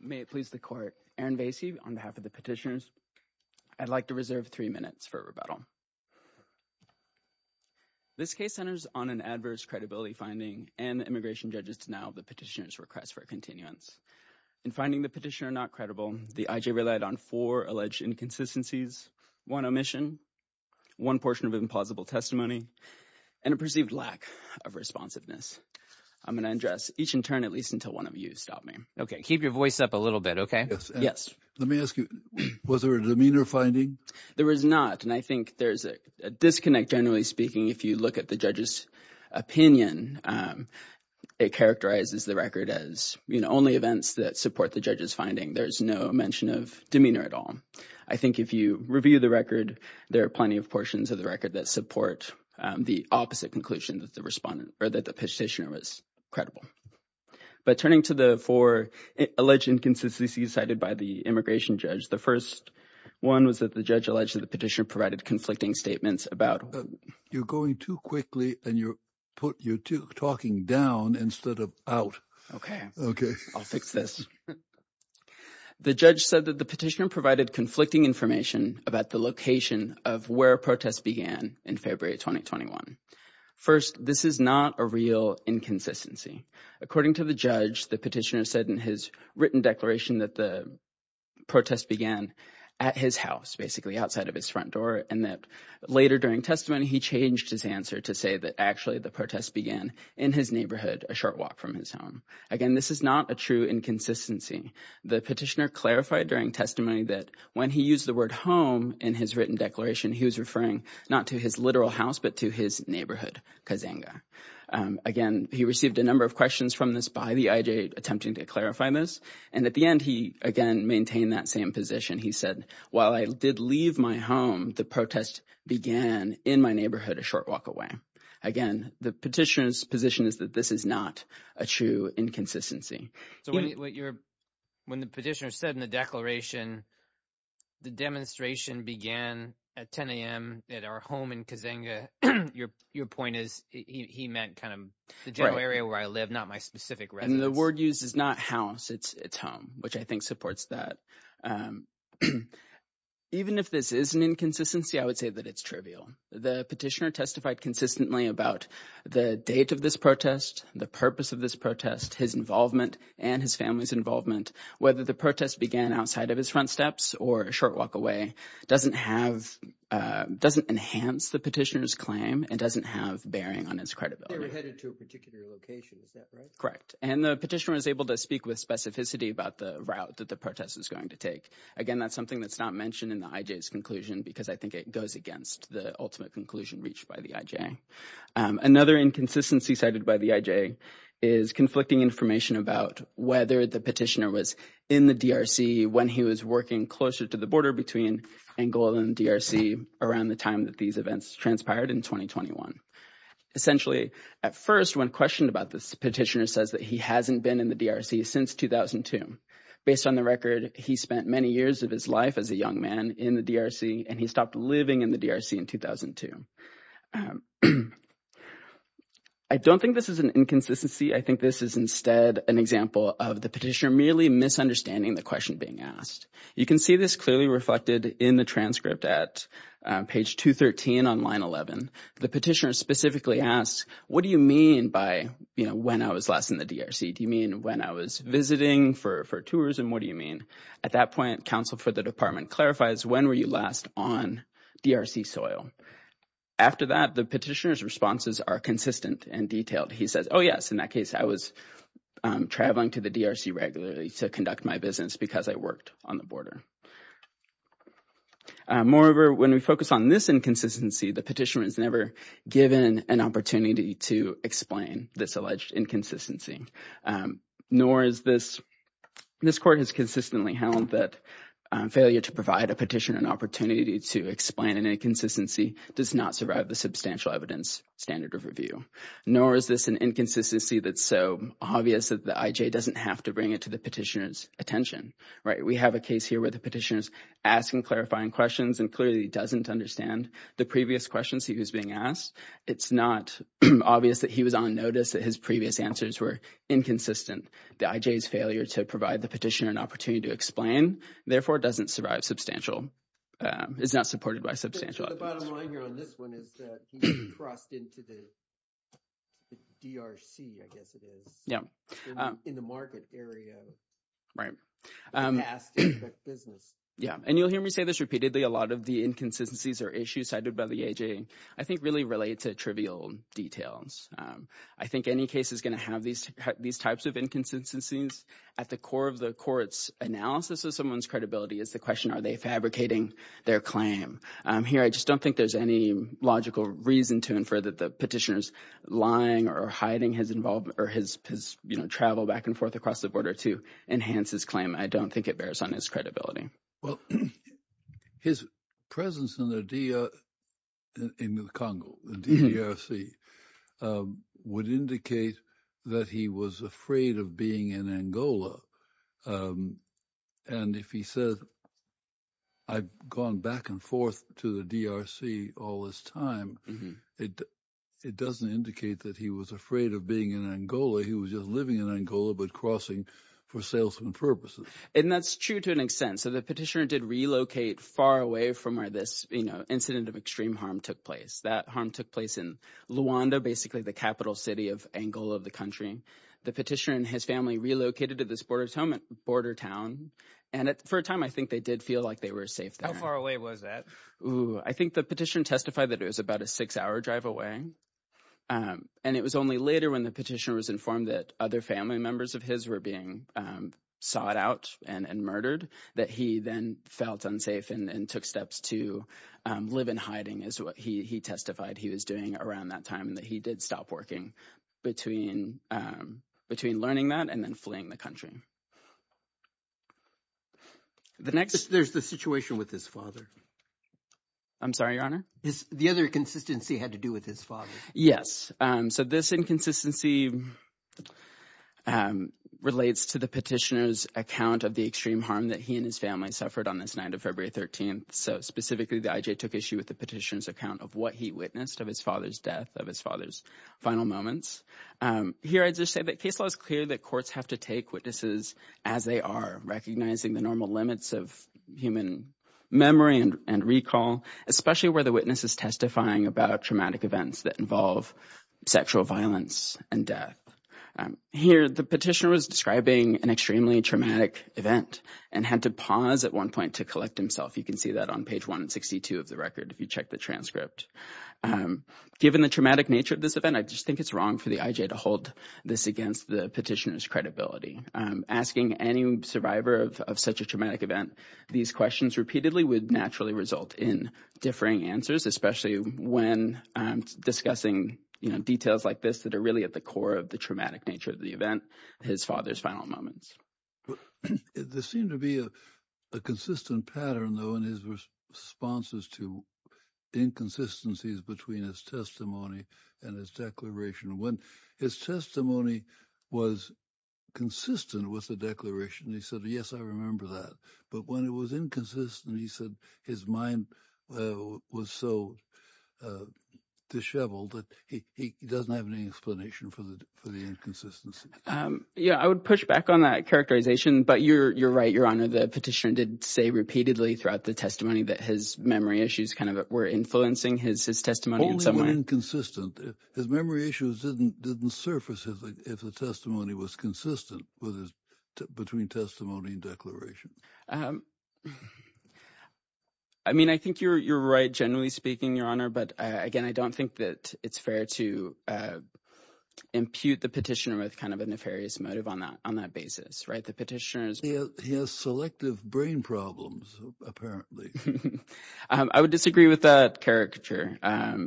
May it please the court, Aaron Vasey on behalf of the petitioners, I'd like to reserve three minutes for rebuttal. This case centers on an adverse credibility finding and immigration judges denial of the petitioner's request for continuance. In finding the petitioner not credible, the IJ relied on four alleged inconsistencies, one omission, one portion of an implausible testimony, and a perceived lack of responsiveness. I'm going to address each in turn at least until one of you stop me. Okay, keep your voice up a little bit, okay? Yes. Let me ask you, was there a demeanor finding? There was not, and I think there's a disconnect generally speaking if you look at the judge's opinion. It characterizes the record as, you know, only events that support the judge's finding. There's no mention of demeanor at all. I think if you review the record, there are plenty of portions of the record that support the opposite conclusion that the respondent or that the alleged inconsistencies cited by the immigration judge. The first one was that the judge alleged that the petitioner provided conflicting statements about You're going too quickly and you're talking down instead of out. Okay, I'll fix this. The judge said that the petitioner provided conflicting information about the location of where protests began in February 2021. First, this is not a real inconsistency. According to the judge, the petitioner said in his written declaration that the protest began at his house, basically outside of his front door, and that later during testimony, he changed his answer to say that actually the protest began in his neighborhood, a short walk from his home. Again, this is not a true inconsistency. The petitioner clarified during testimony that when he used the word home in his written declaration, he was referring not to his literal house, but to his neighborhood, Kazanga. Again, he received a number of questions from this by the IJ attempting to clarify this, and at the end, he again maintained that same position. He said, while I did leave my home, the protest began in my neighborhood a short walk away. Again, the petitioner's position is that this is not a true inconsistency. So when the petitioner said in the declaration, the demonstration began at 10 a.m. at our home in Kazanga, your point is he meant kind of the general area where I live, not my specific residence. And the word used is not house, it's home, which I think supports that. Even if this is an inconsistency, I would say that it's trivial. The petitioner testified consistently about the date of this protest, the purpose of this protest, his involvement, and his family's involvement, whether the protest began outside of his front steps or a short walk away, doesn't enhance the petitioner's claim and doesn't have bearing on his credibility. They were headed to a particular location, is that right? Correct. And the petitioner was able to speak with specificity about the route that the protest was going to take. Again, that's something that's not mentioned in the IJ's conclusion, because I think it goes against the ultimate conclusion reached by the IJ. Another inconsistency cited by the IJ is conflicting information about whether the petitioner was in the DRC when he was working closer to the border between Angola and the DRC around the time that these events transpired in 2021. Essentially, at first, when questioned about this, the petitioner says that he hasn't been in the DRC since 2002. Based on the record, he spent many years of his life as a young man in the DRC, and he stopped living in the DRC in 2002. I don't think this is an inconsistency. I think this is instead an example of the petitioner merely misunderstanding the question being asked. You can see this clearly reflected in the transcript at page 213 on line 11. The petitioner specifically asked, what do you mean by, you know, when I was last in the DRC? Do you mean when I was visiting for tourism? What do you mean? At that point, counsel for the department clarifies when were you last on DRC soil? After that, the petitioner's responses are consistent and detailed. He says, oh yes, in that case, I was traveling to the DRC regularly to conduct my business because I worked on the border. Moreover, when we focus on this inconsistency, the petitioner is never given an opportunity to explain this alleged inconsistency. Nor is this, this court has held that failure to provide a petitioner an opportunity to explain an inconsistency does not survive the substantial evidence standard of review. Nor is this an inconsistency that's so obvious that the IJ doesn't have to bring it to the petitioner's attention, right? We have a case here where the petitioner is asking clarifying questions and clearly doesn't understand the previous questions he was being asked. It's not obvious that he was on notice that his previous answers were inconsistent. The IJ's failure to provide the petitioner an opportunity to explain, therefore, doesn't survive substantial, is not supported by substantial evidence. The bottom line here on this one is that he's crossed into the DRC, I guess it is. Yeah. In the market area. Right. Business. Yeah. And you'll hear me say this repeatedly. A lot of the inconsistencies or issues cited by the AJ I think really relate to trivial details. I think any case is going to have these, these types of inconsistencies at the core of the court's analysis of someone's credibility is the question, are they fabricating their claim? Here, I just don't think there's any logical reason to infer that the petitioner's lying or hiding his involvement or his, you know, travel back and forth across the border to enhance his claim. I don't think it bears on his credibility. Well, his presence in the DRC would indicate that he was afraid of being in Angola. And if he says, I've gone back and forth to the DRC all this time, it doesn't indicate that he was afraid of being in Angola. He was just living in Angola, but crossing for salesman purposes. And that's true to an extent. So the petitioner did relocate far away from where this, you know, incident of extreme harm took place. That harm took place in Luanda, basically the capital city of Angola of the country. The petitioner and his family relocated to this border town. And for a time, I think they did feel like they were safe. How far away was that? I think the petition testified that it was about a six hour drive away. And it was only later when the petitioner was informed that other family members of his were being sought out and murdered that he then felt unsafe and took steps to live in hiding is what he testified he was doing around that time and that he did stop working between learning that and then fleeing the country. There's the situation with his father. I'm sorry, Your Honor. The other inconsistency had to do with his father. Yes. So this inconsistency relates to the petitioner's account of the extreme harm that he and his family suffered on this night of February 13th. So specifically, the IJ took issue with the petitioner's account of what he witnessed of his father's death, of his father's final moments. Here, I'd just say that case law is clear that courts have to take witnesses as they are, recognizing the normal limits of human memory and recall, especially where the witness is testifying about traumatic events that involve sexual violence and death. Here, the petitioner was describing an extremely traumatic event and had to pause at one point to collect himself. You can see that on page 162 of the record if you check the transcript. Given the traumatic nature of this event, I just think it's wrong for the IJ to hold this against the petitioner's credibility. Asking any survivor of such a traumatic event these questions repeatedly would naturally result in differing answers, especially when discussing details like this that are really at the core of the traumatic nature of the event, his father's final moments. There seemed to be a consistent pattern, though, in his responses to inconsistencies between his testimony and his declaration. When his testimony was consistent with the declaration, he said, yes, I remember that. But when it was inconsistent, he said his mind was so disheveled that he doesn't have any explanation for the inconsistency. Yeah, I would push back on that characterization, but you're right, Your Honor. The petitioner did say repeatedly throughout the testimony that his memory issues kind of were influencing his testimony in some way. Only when inconsistent. His memory issues didn't surface if the testimony was consistent between testimony and declaration. I mean, I think you're right, generally speaking, Your Honor, but again, I don't think that it's fair to impute the petitioner with kind of a nefarious motive on that basis, right? The petitioner has selective brain problems, apparently. I would disagree with that caricature,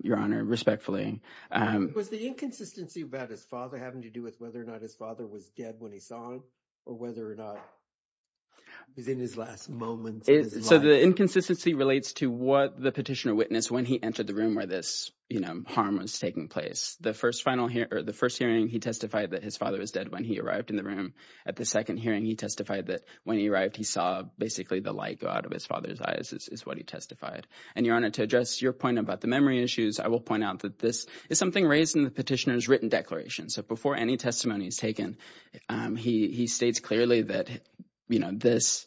Your Honor, respectfully. Was the inconsistency about his father having to do with whether or not his father was dead when he saw him or whether or not he was in his last moments? So the inconsistency relates to what the petitioner witnessed when he entered the room where this, you know, harm was taking place. The first hearing, he testified that his father was dead when he arrived in the room. At the second hearing, he testified that when he arrived, he saw basically the light go out of his father's eyes, is what he testified. And Your Honor, to address your point about the memory issues, I will point out that this is something raised in the petitioner's written declaration. So before any testimony is taken, he states clearly that, you know, this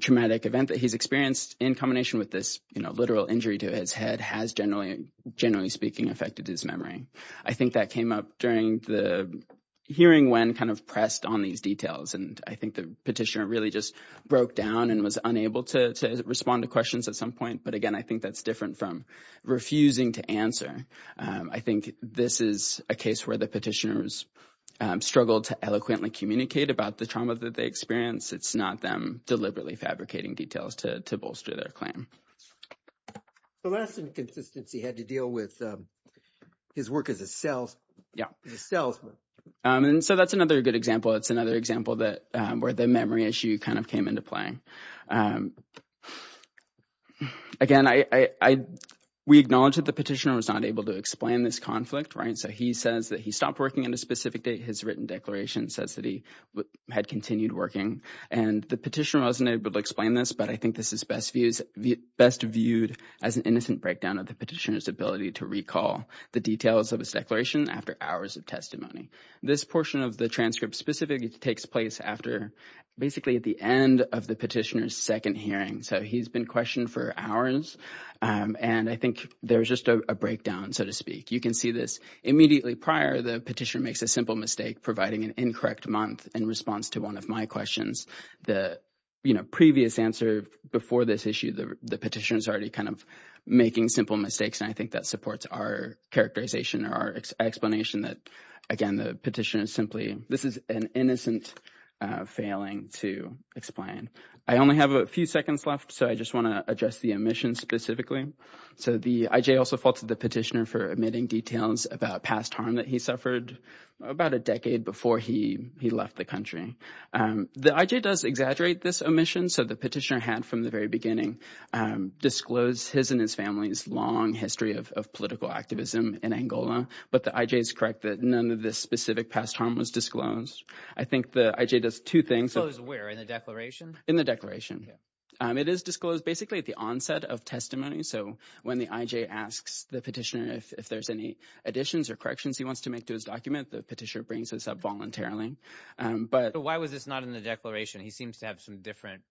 traumatic event that he's experienced in combination with this, you know, literal injury to his head has generally, generally speaking, affected his memory. I think that came up during the hearing when kind of pressed on these details. And I think the petitioner really just broke down and was unable to respond to questions at some point. But again, I think that's different from refusing to answer. I think this is a case where the petitioners struggled to eloquently communicate about the trauma that they experienced. It's not them deliberately fabricating details to bolster their claim. The last inconsistency had to deal with his work as a self. Yeah. And so that's another good example. It's another example that where the memory issue kind of came into play. And again, I we acknowledge that the petitioner was not able to explain this conflict. Right. So he says that he stopped working in a specific day. His written declaration says that he had continued working and the petitioner wasn't able to explain this. But I think this is best views best viewed as an innocent breakdown of the petitioner's ability to recall the details of his declaration after hours of testimony. This portion of the transcript specifically takes place after basically at the end of the petitioner's second hearing. So he's been questioned for hours. And I think there's just a breakdown, so to speak. You can see this immediately prior. The petitioner makes a simple mistake, providing an incorrect month in response to one of my questions. The previous answer before this issue, the petitioners already kind of making simple mistakes. And I think that supports our characterization or our explanation that, again, the petition is simply this is an innocent failing to explain. I only have a few seconds left, so I just want to address the omission specifically. So the IJ also faulted the petitioner for admitting details about past harm that he suffered about a decade before he he left the country. The IJ does exaggerate this omission. So the petitioner had from the very beginning disclosed his and his family's long history of political activism in Angola. But the IJ is correct that none of this specific past harm was disclosed. I think the IJ does two things. So where in the declaration, in the declaration, it is disclosed basically at the onset of testimony. So when the IJ asks the petitioner if there's any additions or corrections he wants to make to his document, the petitioner brings this up voluntarily. But why was this not in the declaration? He seems to have some different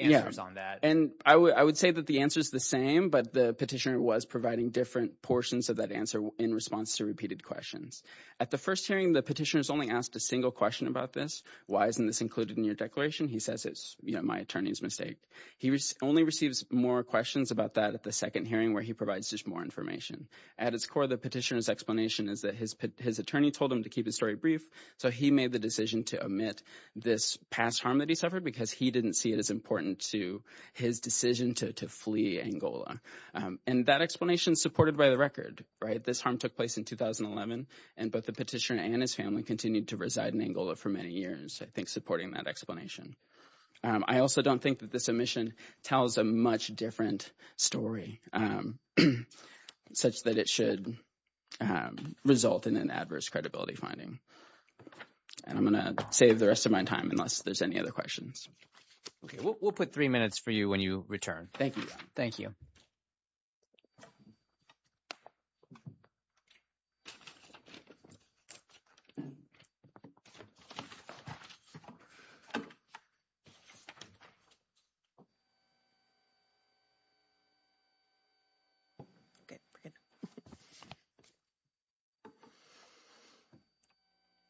answers on that. And I would say that the answer is the same, but the petitioner was providing different portions of that answer in response to repeated questions. At the first hearing, the petitioner is only asked a single question about this. Why isn't this included in your declaration? He says it's my attorney's mistake. He only receives more questions about that at the second hearing where he provides just more information. At its core, the petitioner's explanation is that his attorney told him to keep his story brief. So he made the decision to omit this past harm that he suffered because he didn't see it as important to his decision to flee Angola. And that explanation is supported by the record, right? This harm took place in 2011, and both the petitioner and his family continued to reside in Angola for many years, I think, supporting that explanation. I also don't think that this omission tells a much different story such that it should result in an adverse credibility finding. And I'm going to save the rest of my time unless there's any other questions. Okay, we'll put three minutes for you when you return. Thank you. Thank you.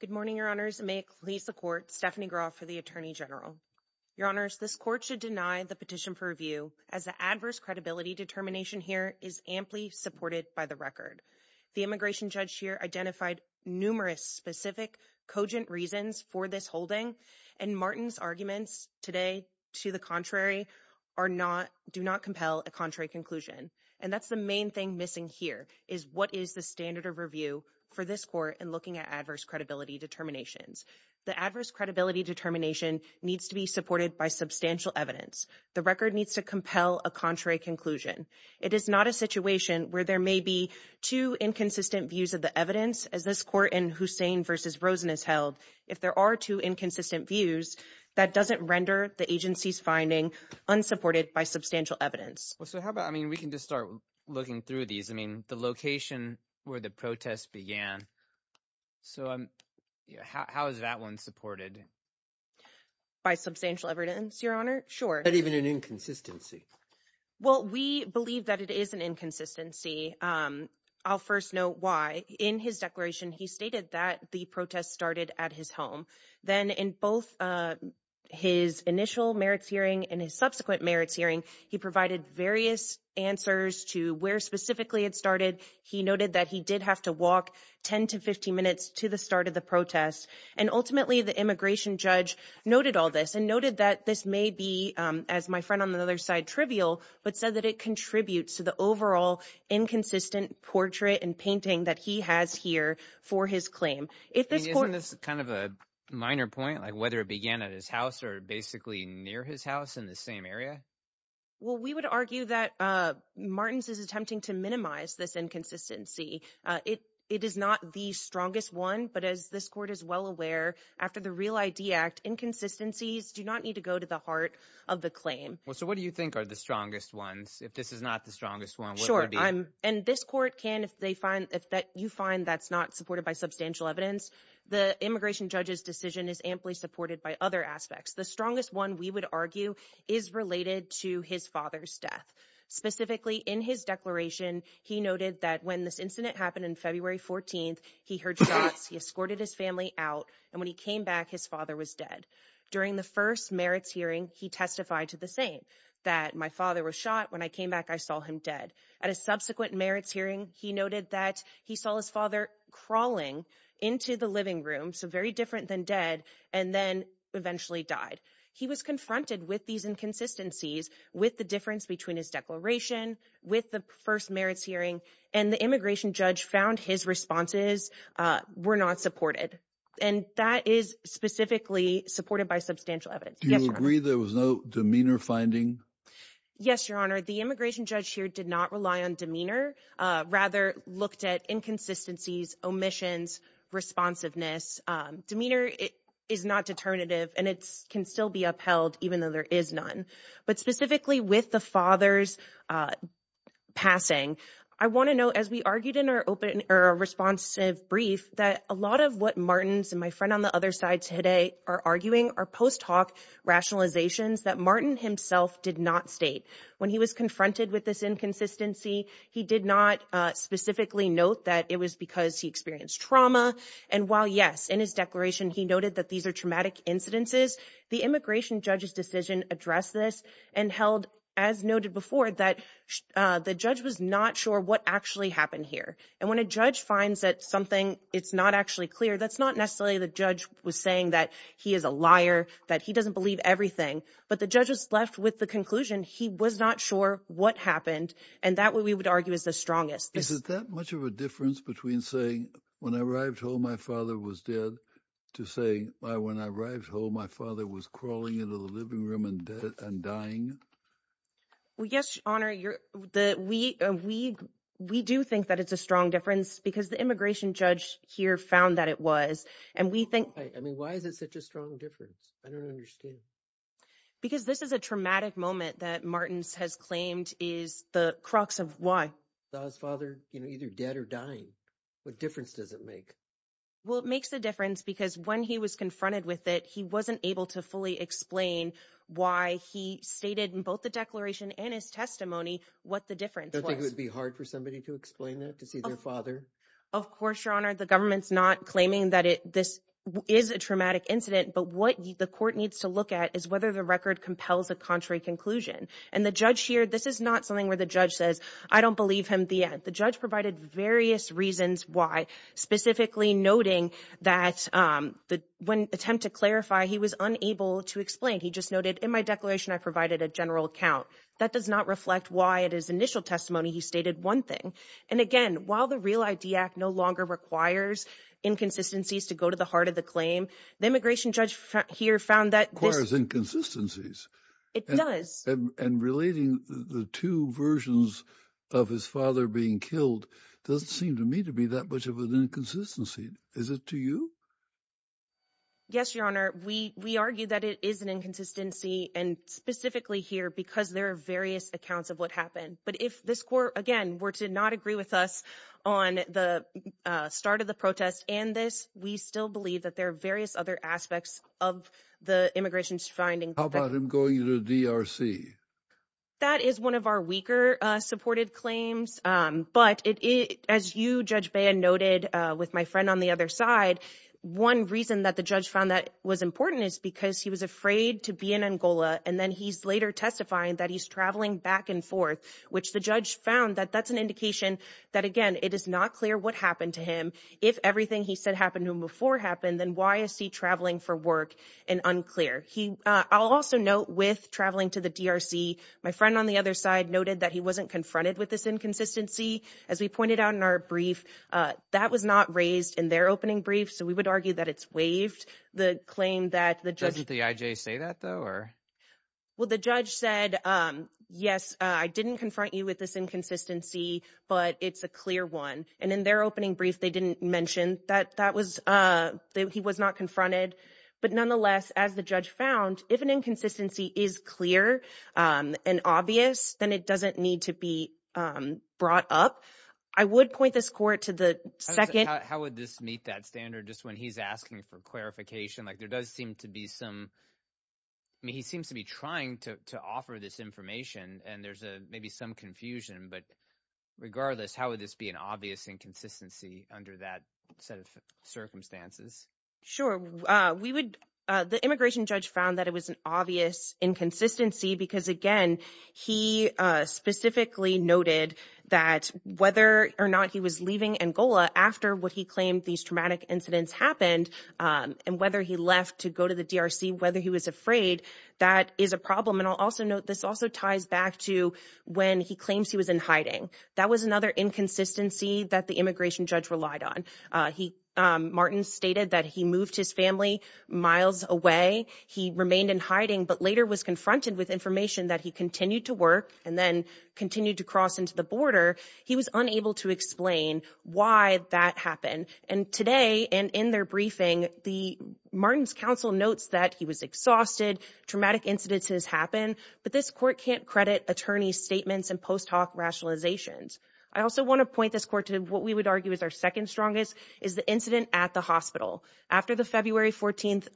Good morning, Your Honors. May it please the court, Stephanie Graff for the Attorney General. Your Honors, this court should deny the petition for review as the adverse credibility determination here is amply supported by the record. The immigration judge here identified numerous specific cogent reasons for this holding, and Martin's arguments today to the contrary do not compel a contrary conclusion. And that's the main thing missing here, is what is the standard of review for this court in looking at adverse credibility determinations? The adverse credibility determination needs to be supported by substantial evidence. The record needs to compel a contrary conclusion. It is not a situation where there may be two inconsistent views of the evidence, as this court in Hussain v. Rosen has held. If there are two inconsistent views, that doesn't render the agency's finding unsupported by substantial evidence. Well, so how about, I mean, we can just look through these. I mean, the location where the protest began. So how is that one supported? By substantial evidence, Your Honor. Sure. Not even an inconsistency. Well, we believe that it is an inconsistency. I'll first note why. In his declaration, he stated that the protest started at his home. Then in both his initial merits hearing and his merits hearing, he provided various answers to where specifically it started. He noted that he did have to walk 10 to 15 minutes to the start of the protest. And ultimately, the immigration judge noted all this and noted that this may be, as my friend on the other side, trivial, but said that it contributes to the overall inconsistent portrait and painting that he has here for his claim. Isn't this kind of a minor point, like whether it began at his house or basically near his house in the same area? Well, we would argue that Martins is attempting to minimize this inconsistency. It is not the strongest one, but as this court is well aware, after the Real ID Act, inconsistencies do not need to go to the heart of the claim. So what do you think are the strongest ones? If this is not the strongest one, what would be? Sure. And this court can, if you find that's not supported by substantial evidence, the immigration judge's decision is amply supported by other aspects. The strongest one, we would argue, is related to his father's death. Specifically, in his declaration, he noted that when this incident happened in February 14th, he heard shots, he escorted his family out, and when he came back, his father was dead. During the first merits hearing, he testified to the same, that my father was shot, when I came back, I saw him dead. At a subsequent merits hearing, he noted that he saw his father crawling into the living room, so very different than dead, and then eventually died. He was confronted with these inconsistencies, with the difference between his declaration, with the first merits hearing, and the immigration judge found his responses were not supported. And that is specifically supported by substantial evidence. Do you agree there was no demeanor finding? Yes, Your Honor. The immigration judge here did not rely on demeanor, rather looked at inconsistencies, omissions, responsiveness. Demeanor is not determinative, and it can still be upheld, even though there is none. But specifically with the father's passing, I want to note, as we argued in our responsive brief, that a lot of what Martins and my friend on the other side today are arguing are post-talk rationalizations that Martin himself did not state. When he was confronted with this inconsistency, he did not specifically note that it was because he experienced trauma. And while yes, in his declaration, he noted that these are traumatic incidences, the immigration judge's decision addressed this and held, as noted before, that the judge was not sure what actually happened here. And when a judge finds that something, it's not actually clear, that's not necessarily the judge was saying that he is a liar, that he doesn't believe everything. But the judge was left with the conclusion he was not sure what happened, and that what we would argue is the strongest. Is it that much of a difference between saying, when I arrived home, my father was dead, to say, when I arrived home, my father was crawling into the living room and dying? Well, yes, Your Honor, we do think that it's a strong difference because the immigration judge here found that it was. And we think... I mean, why is it such a strong difference? I don't understand. Because this is a traumatic moment that Martins has claimed is the crux of why. Saw his father either dead or dying. What difference does it make? Well, it makes a difference because when he was confronted with it, he wasn't able to fully explain why he stated in both the declaration and his testimony what the difference was. Don't you think it would be hard for somebody to explain that, to see their father? Of course, Your Honor, the government's not claiming that this is a traumatic incident, but what the court needs to look at is whether the record compels a contrary conclusion. And the judge here, this is not something where the judge says, I don't believe him yet. The judge provided various reasons why, specifically noting that when attempt to clarify, he was unable to explain. He just noted, in my declaration, I provided a general account. That does not reflect why it is initial testimony. He stated one thing. And again, while the Real ID Act no longer requires inconsistencies to go to the heart of the claim, the immigration judge here found that this... Requires inconsistencies. It does. And relating the two versions of his father being killed doesn't seem to me to be that much of an inconsistency. Is it to you? Yes, Your Honor. We argue that it is an inconsistency and specifically here because there are various accounts of what happened. But if this court, again, were to not agree with us on the start of the protest and this, we still believe that there are various other aspects of the immigration's finding. How about him going to the DRC? That is one of our weaker supported claims. But as you, Judge Baya, noted with my friend on the other side, one reason that the judge found that was important is because he was afraid to be in Angola. And then he's later testifying that he's traveling back and forth, which the judge found that that's an indication that, again, it is not clear what happened to him. If everything he said happened to him before happened, then why is he traveling for work and unclear? I'll also note with traveling to the DRC, my friend on the other side noted that he wasn't confronted with this inconsistency. As we pointed out in our brief, that was not raised in their opening brief. So we would argue that it's waived, the claim that the judge... Doesn't the IJ say that though? Well, the judge said, yes, I didn't confront you with this inconsistency, but it's a clear one. And in their opening brief, they didn't mention that he was not confronted. But nonetheless, as the judge found, if an inconsistency is clear and obvious, then it doesn't need to be brought up. I would point this court to the second... How would this meet that standard? Just when he's asking for clarification, seems to be trying to offer this information and there's maybe some confusion, but regardless, how would this be an obvious inconsistency under that set of circumstances? Sure. The immigration judge found that it was an obvious inconsistency because again, he specifically noted that whether or not he was leaving Angola after what he claimed these incidents happened, and whether he left to go to the DRC, whether he was afraid, that is a problem. And I'll also note, this also ties back to when he claims he was in hiding. That was another inconsistency that the immigration judge relied on. Martin stated that he moved his family miles away. He remained in hiding, but later was confronted with information that he continued to work and then continued to cross into the border. He was unable to explain why that happened. And today, and in their briefing, Martin's counsel notes that he was exhausted, traumatic incidences happen, but this court can't credit attorney's statements and post hoc rationalizations. I also want to point this court to what we would argue is our second strongest, is the incident at the hospital. After the February 14th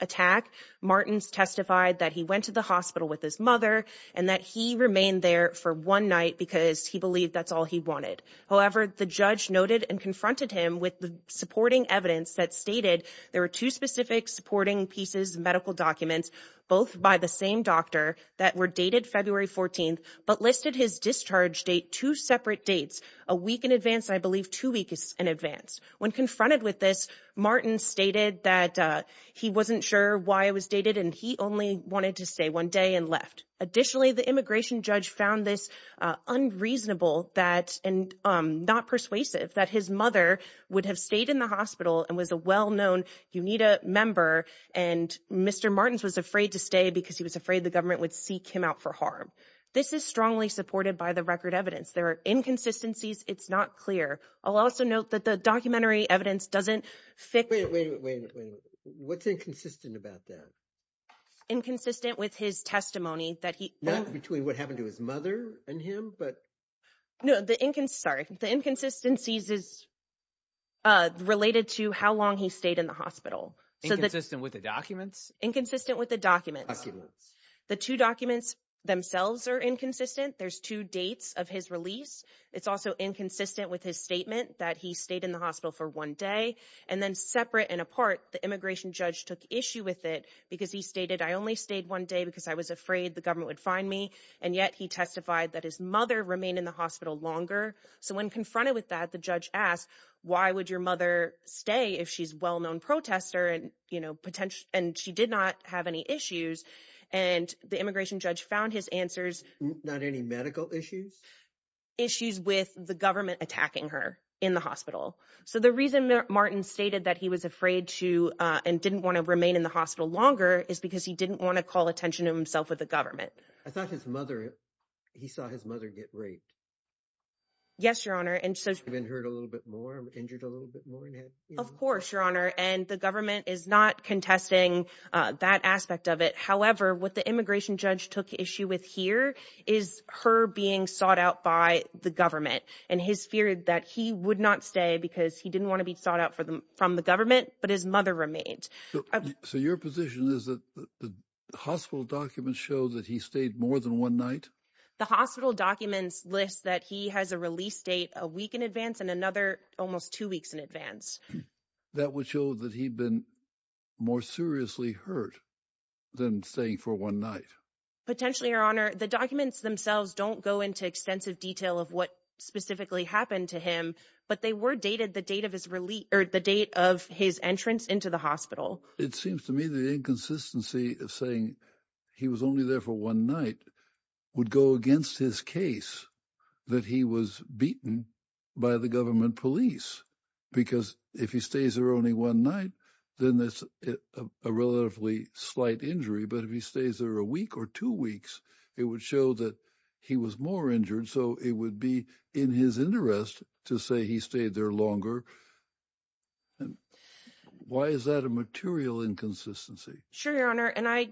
attack, Martin's testified that he went to the hospital with his mother and that he remained there for one night because he believed that's all he wanted. However, the judge noted and confronted him with the supporting evidence that stated there were two specific supporting pieces, medical documents, both by the same doctor that were dated February 14th, but listed his discharge date two separate dates, a week in advance, I believe two weeks in advance. When confronted with this, Martin stated that he wasn't sure why it was dated and he only wanted to stay one day and left. Additionally, the immigration judge found this unreasonable that and not persuasive that his mother would have stayed in the hospital and was a well-known UNITA member. And Mr. Martin's was afraid to stay because he was afraid the government would seek him out for harm. This is strongly supported by the record evidence. There are inconsistencies. It's not clear. I'll also note that the documentary evidence doesn't fit. Wait, wait, wait, wait, wait. What's inconsistent about that? Inconsistent with his testimony that he... Not between what happened to his mother and him, but... No, the inconsistencies is related to how long he stayed in the hospital. Inconsistent with the documents? Inconsistent with the documents. The two documents themselves are inconsistent. There's two dates of his release. It's also inconsistent with his statement that he stayed in the hospital for one day and then separate and apart, the immigration judge took issue with it because he stated, I only stayed one day because I was afraid the government would find me. And yet he testified that his mother remained in the hospital longer. So when confronted with that, the judge asked, why would your mother stay if she's a well-known protester and she did not have any issues? And the immigration judge found his answers... Not any medical issues? Issues with the government attacking her in the hospital. So the reason Martin stated that he was afraid to, and didn't want to remain in the hospital longer, is because he didn't want to call attention to himself with the government. I thought his mother, he saw his mother get raped. Yes, your honor. And so... Been hurt a little bit more, injured a little bit more and had... Of course, your honor. And the government is not contesting that aspect of it. However, what the immigration judge took issue with here is her being sought out by the government. And his fear that he would not stay because he didn't want to be sought out from the government, but his mother remained. So your position is that the hospital documents show that he stayed more than one night? The hospital documents list that he has a release date a week in advance and another almost two weeks in advance. That would show that he'd been more seriously hurt than staying for one night? Potentially, your honor. The documents themselves don't go into extensive detail of what happened to him, but they were dated the date of his release or the date of his entrance into the hospital. It seems to me the inconsistency of saying he was only there for one night would go against his case that he was beaten by the government police. Because if he stays there only one night, then that's a relatively slight injury. But if he stays there a week or two weeks, it would show that he was more injured. So it would be in his interest to say he stayed there longer. Why is that a material inconsistency? Sure, your honor. And I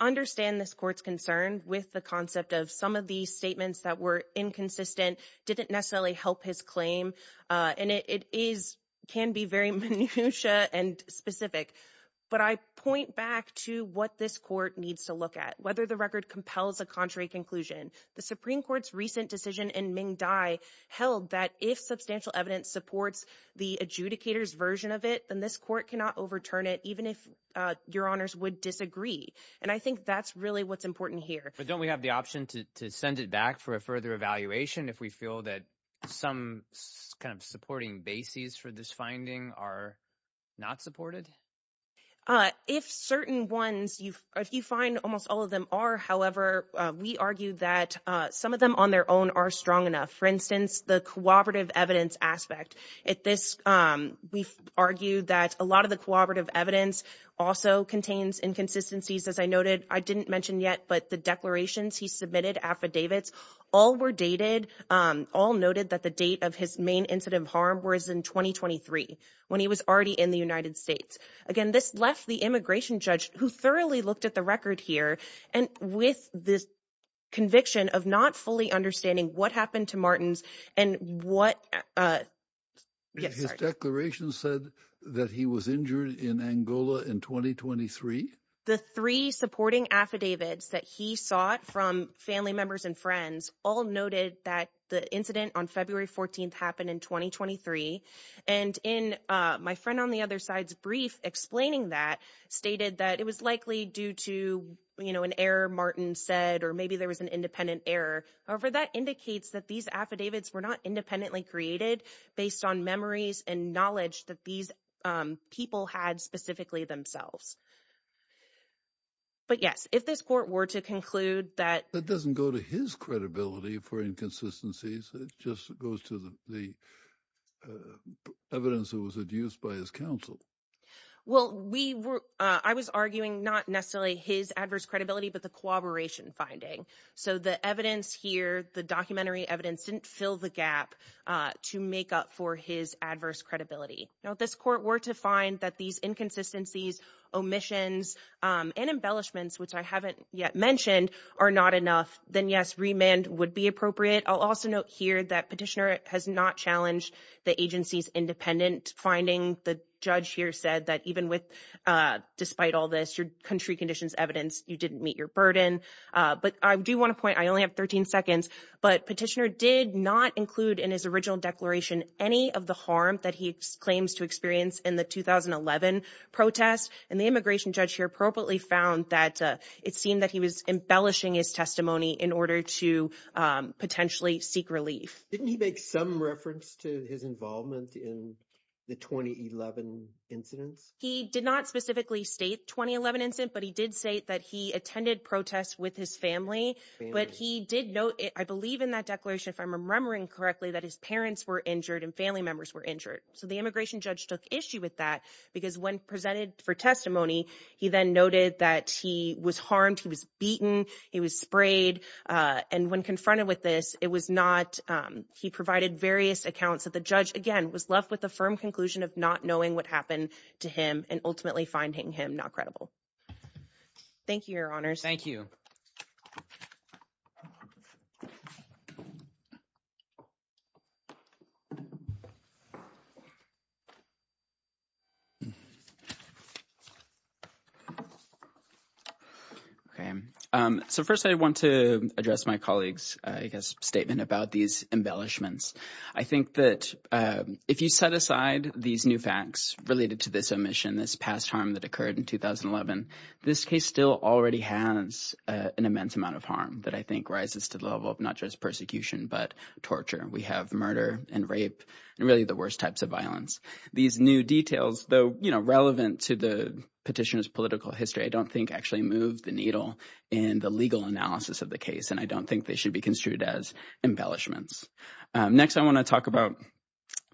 understand this court's concern with the concept of some of these statements that were inconsistent didn't necessarily help his claim. And it is can be very minutiae and specific. But I point back to what this court needs to look at, whether the record compels a contrary conclusion. The Supreme Court's recent decision in Ming Dai held that if substantial evidence supports the adjudicator's version of it, then this court cannot overturn it, even if your honors would disagree. And I think that's really what's important here. But don't we have the option to send it back for a further evaluation if we feel that some kind of supporting bases for this finding are not supported? If certain ones, if you find almost all of them are, however, we argue that some of them on their own are strong enough. For instance, the cooperative evidence aspect. At this, we've argued that a lot of the cooperative evidence also contains inconsistencies. As I noted, I didn't mention yet, but the declarations he submitted, affidavits, all were dated, all noted that the date of his main incident of harm was in 2023, when he was already in the United States. Again, this left the immigration judge who thoroughly looked at the record here and with this conviction of not fully understanding what happened to Martins and what. His declaration said that he was injured in Angola in 2023. The three supporting affidavits that he sought from family members and friends all noted that the incident on February 14th happened in 2023. And in my friend on the other side's brief explaining that, stated that it was likely due to, you know, an error Martin said, or maybe there was an independent error. However, that indicates that these affidavits were not independently created based on memories and knowledge that these people had specifically themselves. But yes, if this court were to conclude that. It doesn't go to his credibility for inconsistencies. It just goes to the evidence that was used by his counsel. Well, we were, I was arguing not necessarily his adverse credibility, but the cooperation finding. So the evidence here, the documentary evidence didn't fill the gap to make up for his adverse credibility. Now, this court were to find that these inconsistencies, omissions and embellishments, which I haven't yet mentioned, are not enough. Then yes, remand would be appropriate. I'll also note here that petitioner has not challenged the agency's independent finding. The judge here said that even with, despite all this, your country conditions evidence, you didn't meet your burden. But I do want to point, I only have 13 seconds, but petitioner did not include in his original declaration any of the harm that he claims to experience in the 2011 protest. And the immigration judge here appropriately found that it seemed that he was embellishing his testimony in order to potentially seek relief. Didn't he make some reference to his involvement in the 2011 incidents? He did not specifically state 2011 incident, but he did say that he attended protests with his family. But he did note, I believe in that declaration, if I'm remembering correctly, that his parents were injured and family members were injured. So the immigration judge took issue with that because when presented for testimony, he then noted that he was harmed. He was beaten. He was sprayed. And when confronted with this, it was not, he provided various accounts that the judge, again, was left with a firm conclusion of not knowing what happened to him and ultimately finding him not credible. Thank you, your honors. Thank you. Okay, so first I want to address my colleague's, I guess, statement about these embellishments. I think that if you set aside these new facts related to this omission, this past harm that occurred in 2011, this case still already has an immense amount of harm that I think rises to the level of not just persecution, but torture. We have murder and rape and really the worst types of violence. These new details, though, you know, relevant to the petitioner's political history, I don't think actually move the needle in the legal analysis of the case. And I don't think they should be construed as embellishments. Next, I want to talk about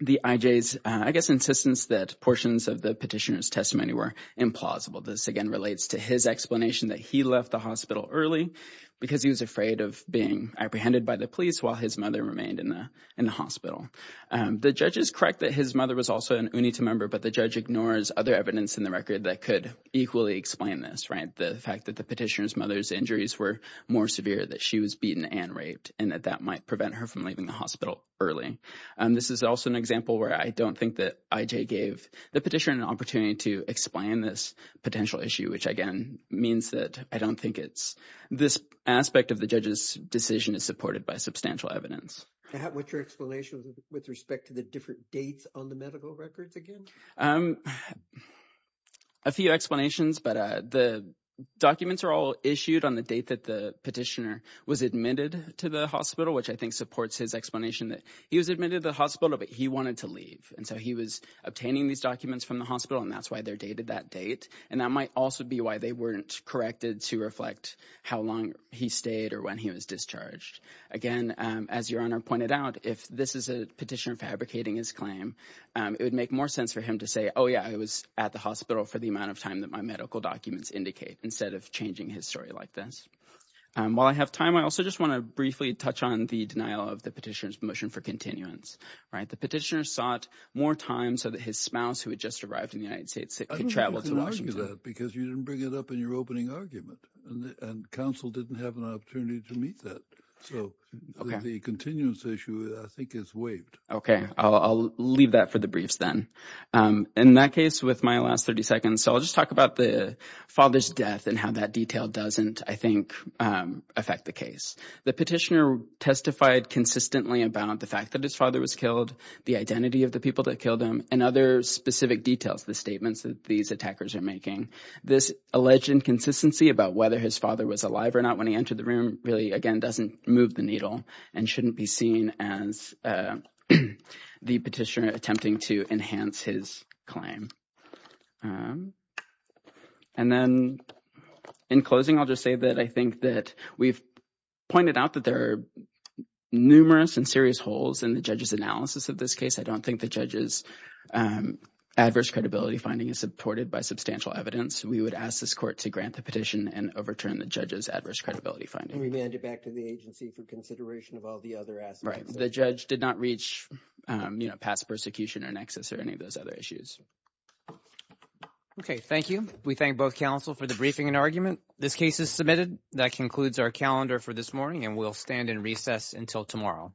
the IJ's, I guess, insistence that portions of the petitioner's testimony were implausible. This, again, relates to his explanation that he left the hospital early because he was afraid of being apprehended by the police while his mother remained in the hospital. The judge is correct that his mother was also an UNITA member, but the judge ignores other evidence in the record that could equally explain this, right? The fact that the petitioner's mother's injuries were more severe, that she was beaten and raped, and that that might prevent her from leaving the hospital early. This is also an example where I don't think that IJ gave the petitioner an opportunity to explain this potential issue, which, again, means that I don't think it's this aspect of the judge's decision is supported by substantial evidence. What's your explanation with respect to the different dates on the medical records again? A few explanations, but the documents are all issued on the date that the petitioner was admitted to the hospital, which I think supports his explanation that he was admitted to the hospital, but he wanted to leave. And so he was obtaining these documents from the hospital, and that's why they're dated that date. And that might also be why they weren't corrected to reflect how long he stayed or when he was discharged. Again, as your Honor pointed out, if this is a petitioner fabricating his claim, it would make more sense for him to say, oh, yeah, I was at the hospital for the amount of time that my medical documents indicate, instead of changing his story like this. While I have time, I also just want to briefly touch on the denial of the petitioner's motion for continuance, right? The petitioner sought more time so that his spouse, who had just arrived in the United States, could travel to Washington. Because you didn't bring it up in your opening argument, and counsel didn't have an opportunity to meet that. So the continuance issue, I think, is waived. OK, I'll leave that for the briefs then. In that case, with my last 30 seconds, I'll just talk about the father's death and how that detail doesn't, I think, affect the case. The petitioner testified consistently about the fact that his father was killed, the identity of the people that killed him, and other specific details, the statements that these attackers are making. This alleged inconsistency about whether his father was alive or not when he entered the room really, again, doesn't move the needle and shouldn't be seen as the petitioner attempting to enhance his claim. And then, in closing, I'll just say that I think that we've pointed out that there are numerous and serious holes in the judge's analysis of this case. I don't think the judge's adverse credibility finding is supported by substantial evidence. We would ask this court to grant the petition and overturn the judge's adverse credibility finding. And remand it back to the agency for consideration of all the other aspects. Right. The judge did not reach past persecution or nexus or any of those other issues. Okay. Thank you. We thank both counsel for the briefing and argument. This case is submitted. That concludes our calendar for this morning, and we'll stand in recess until tomorrow.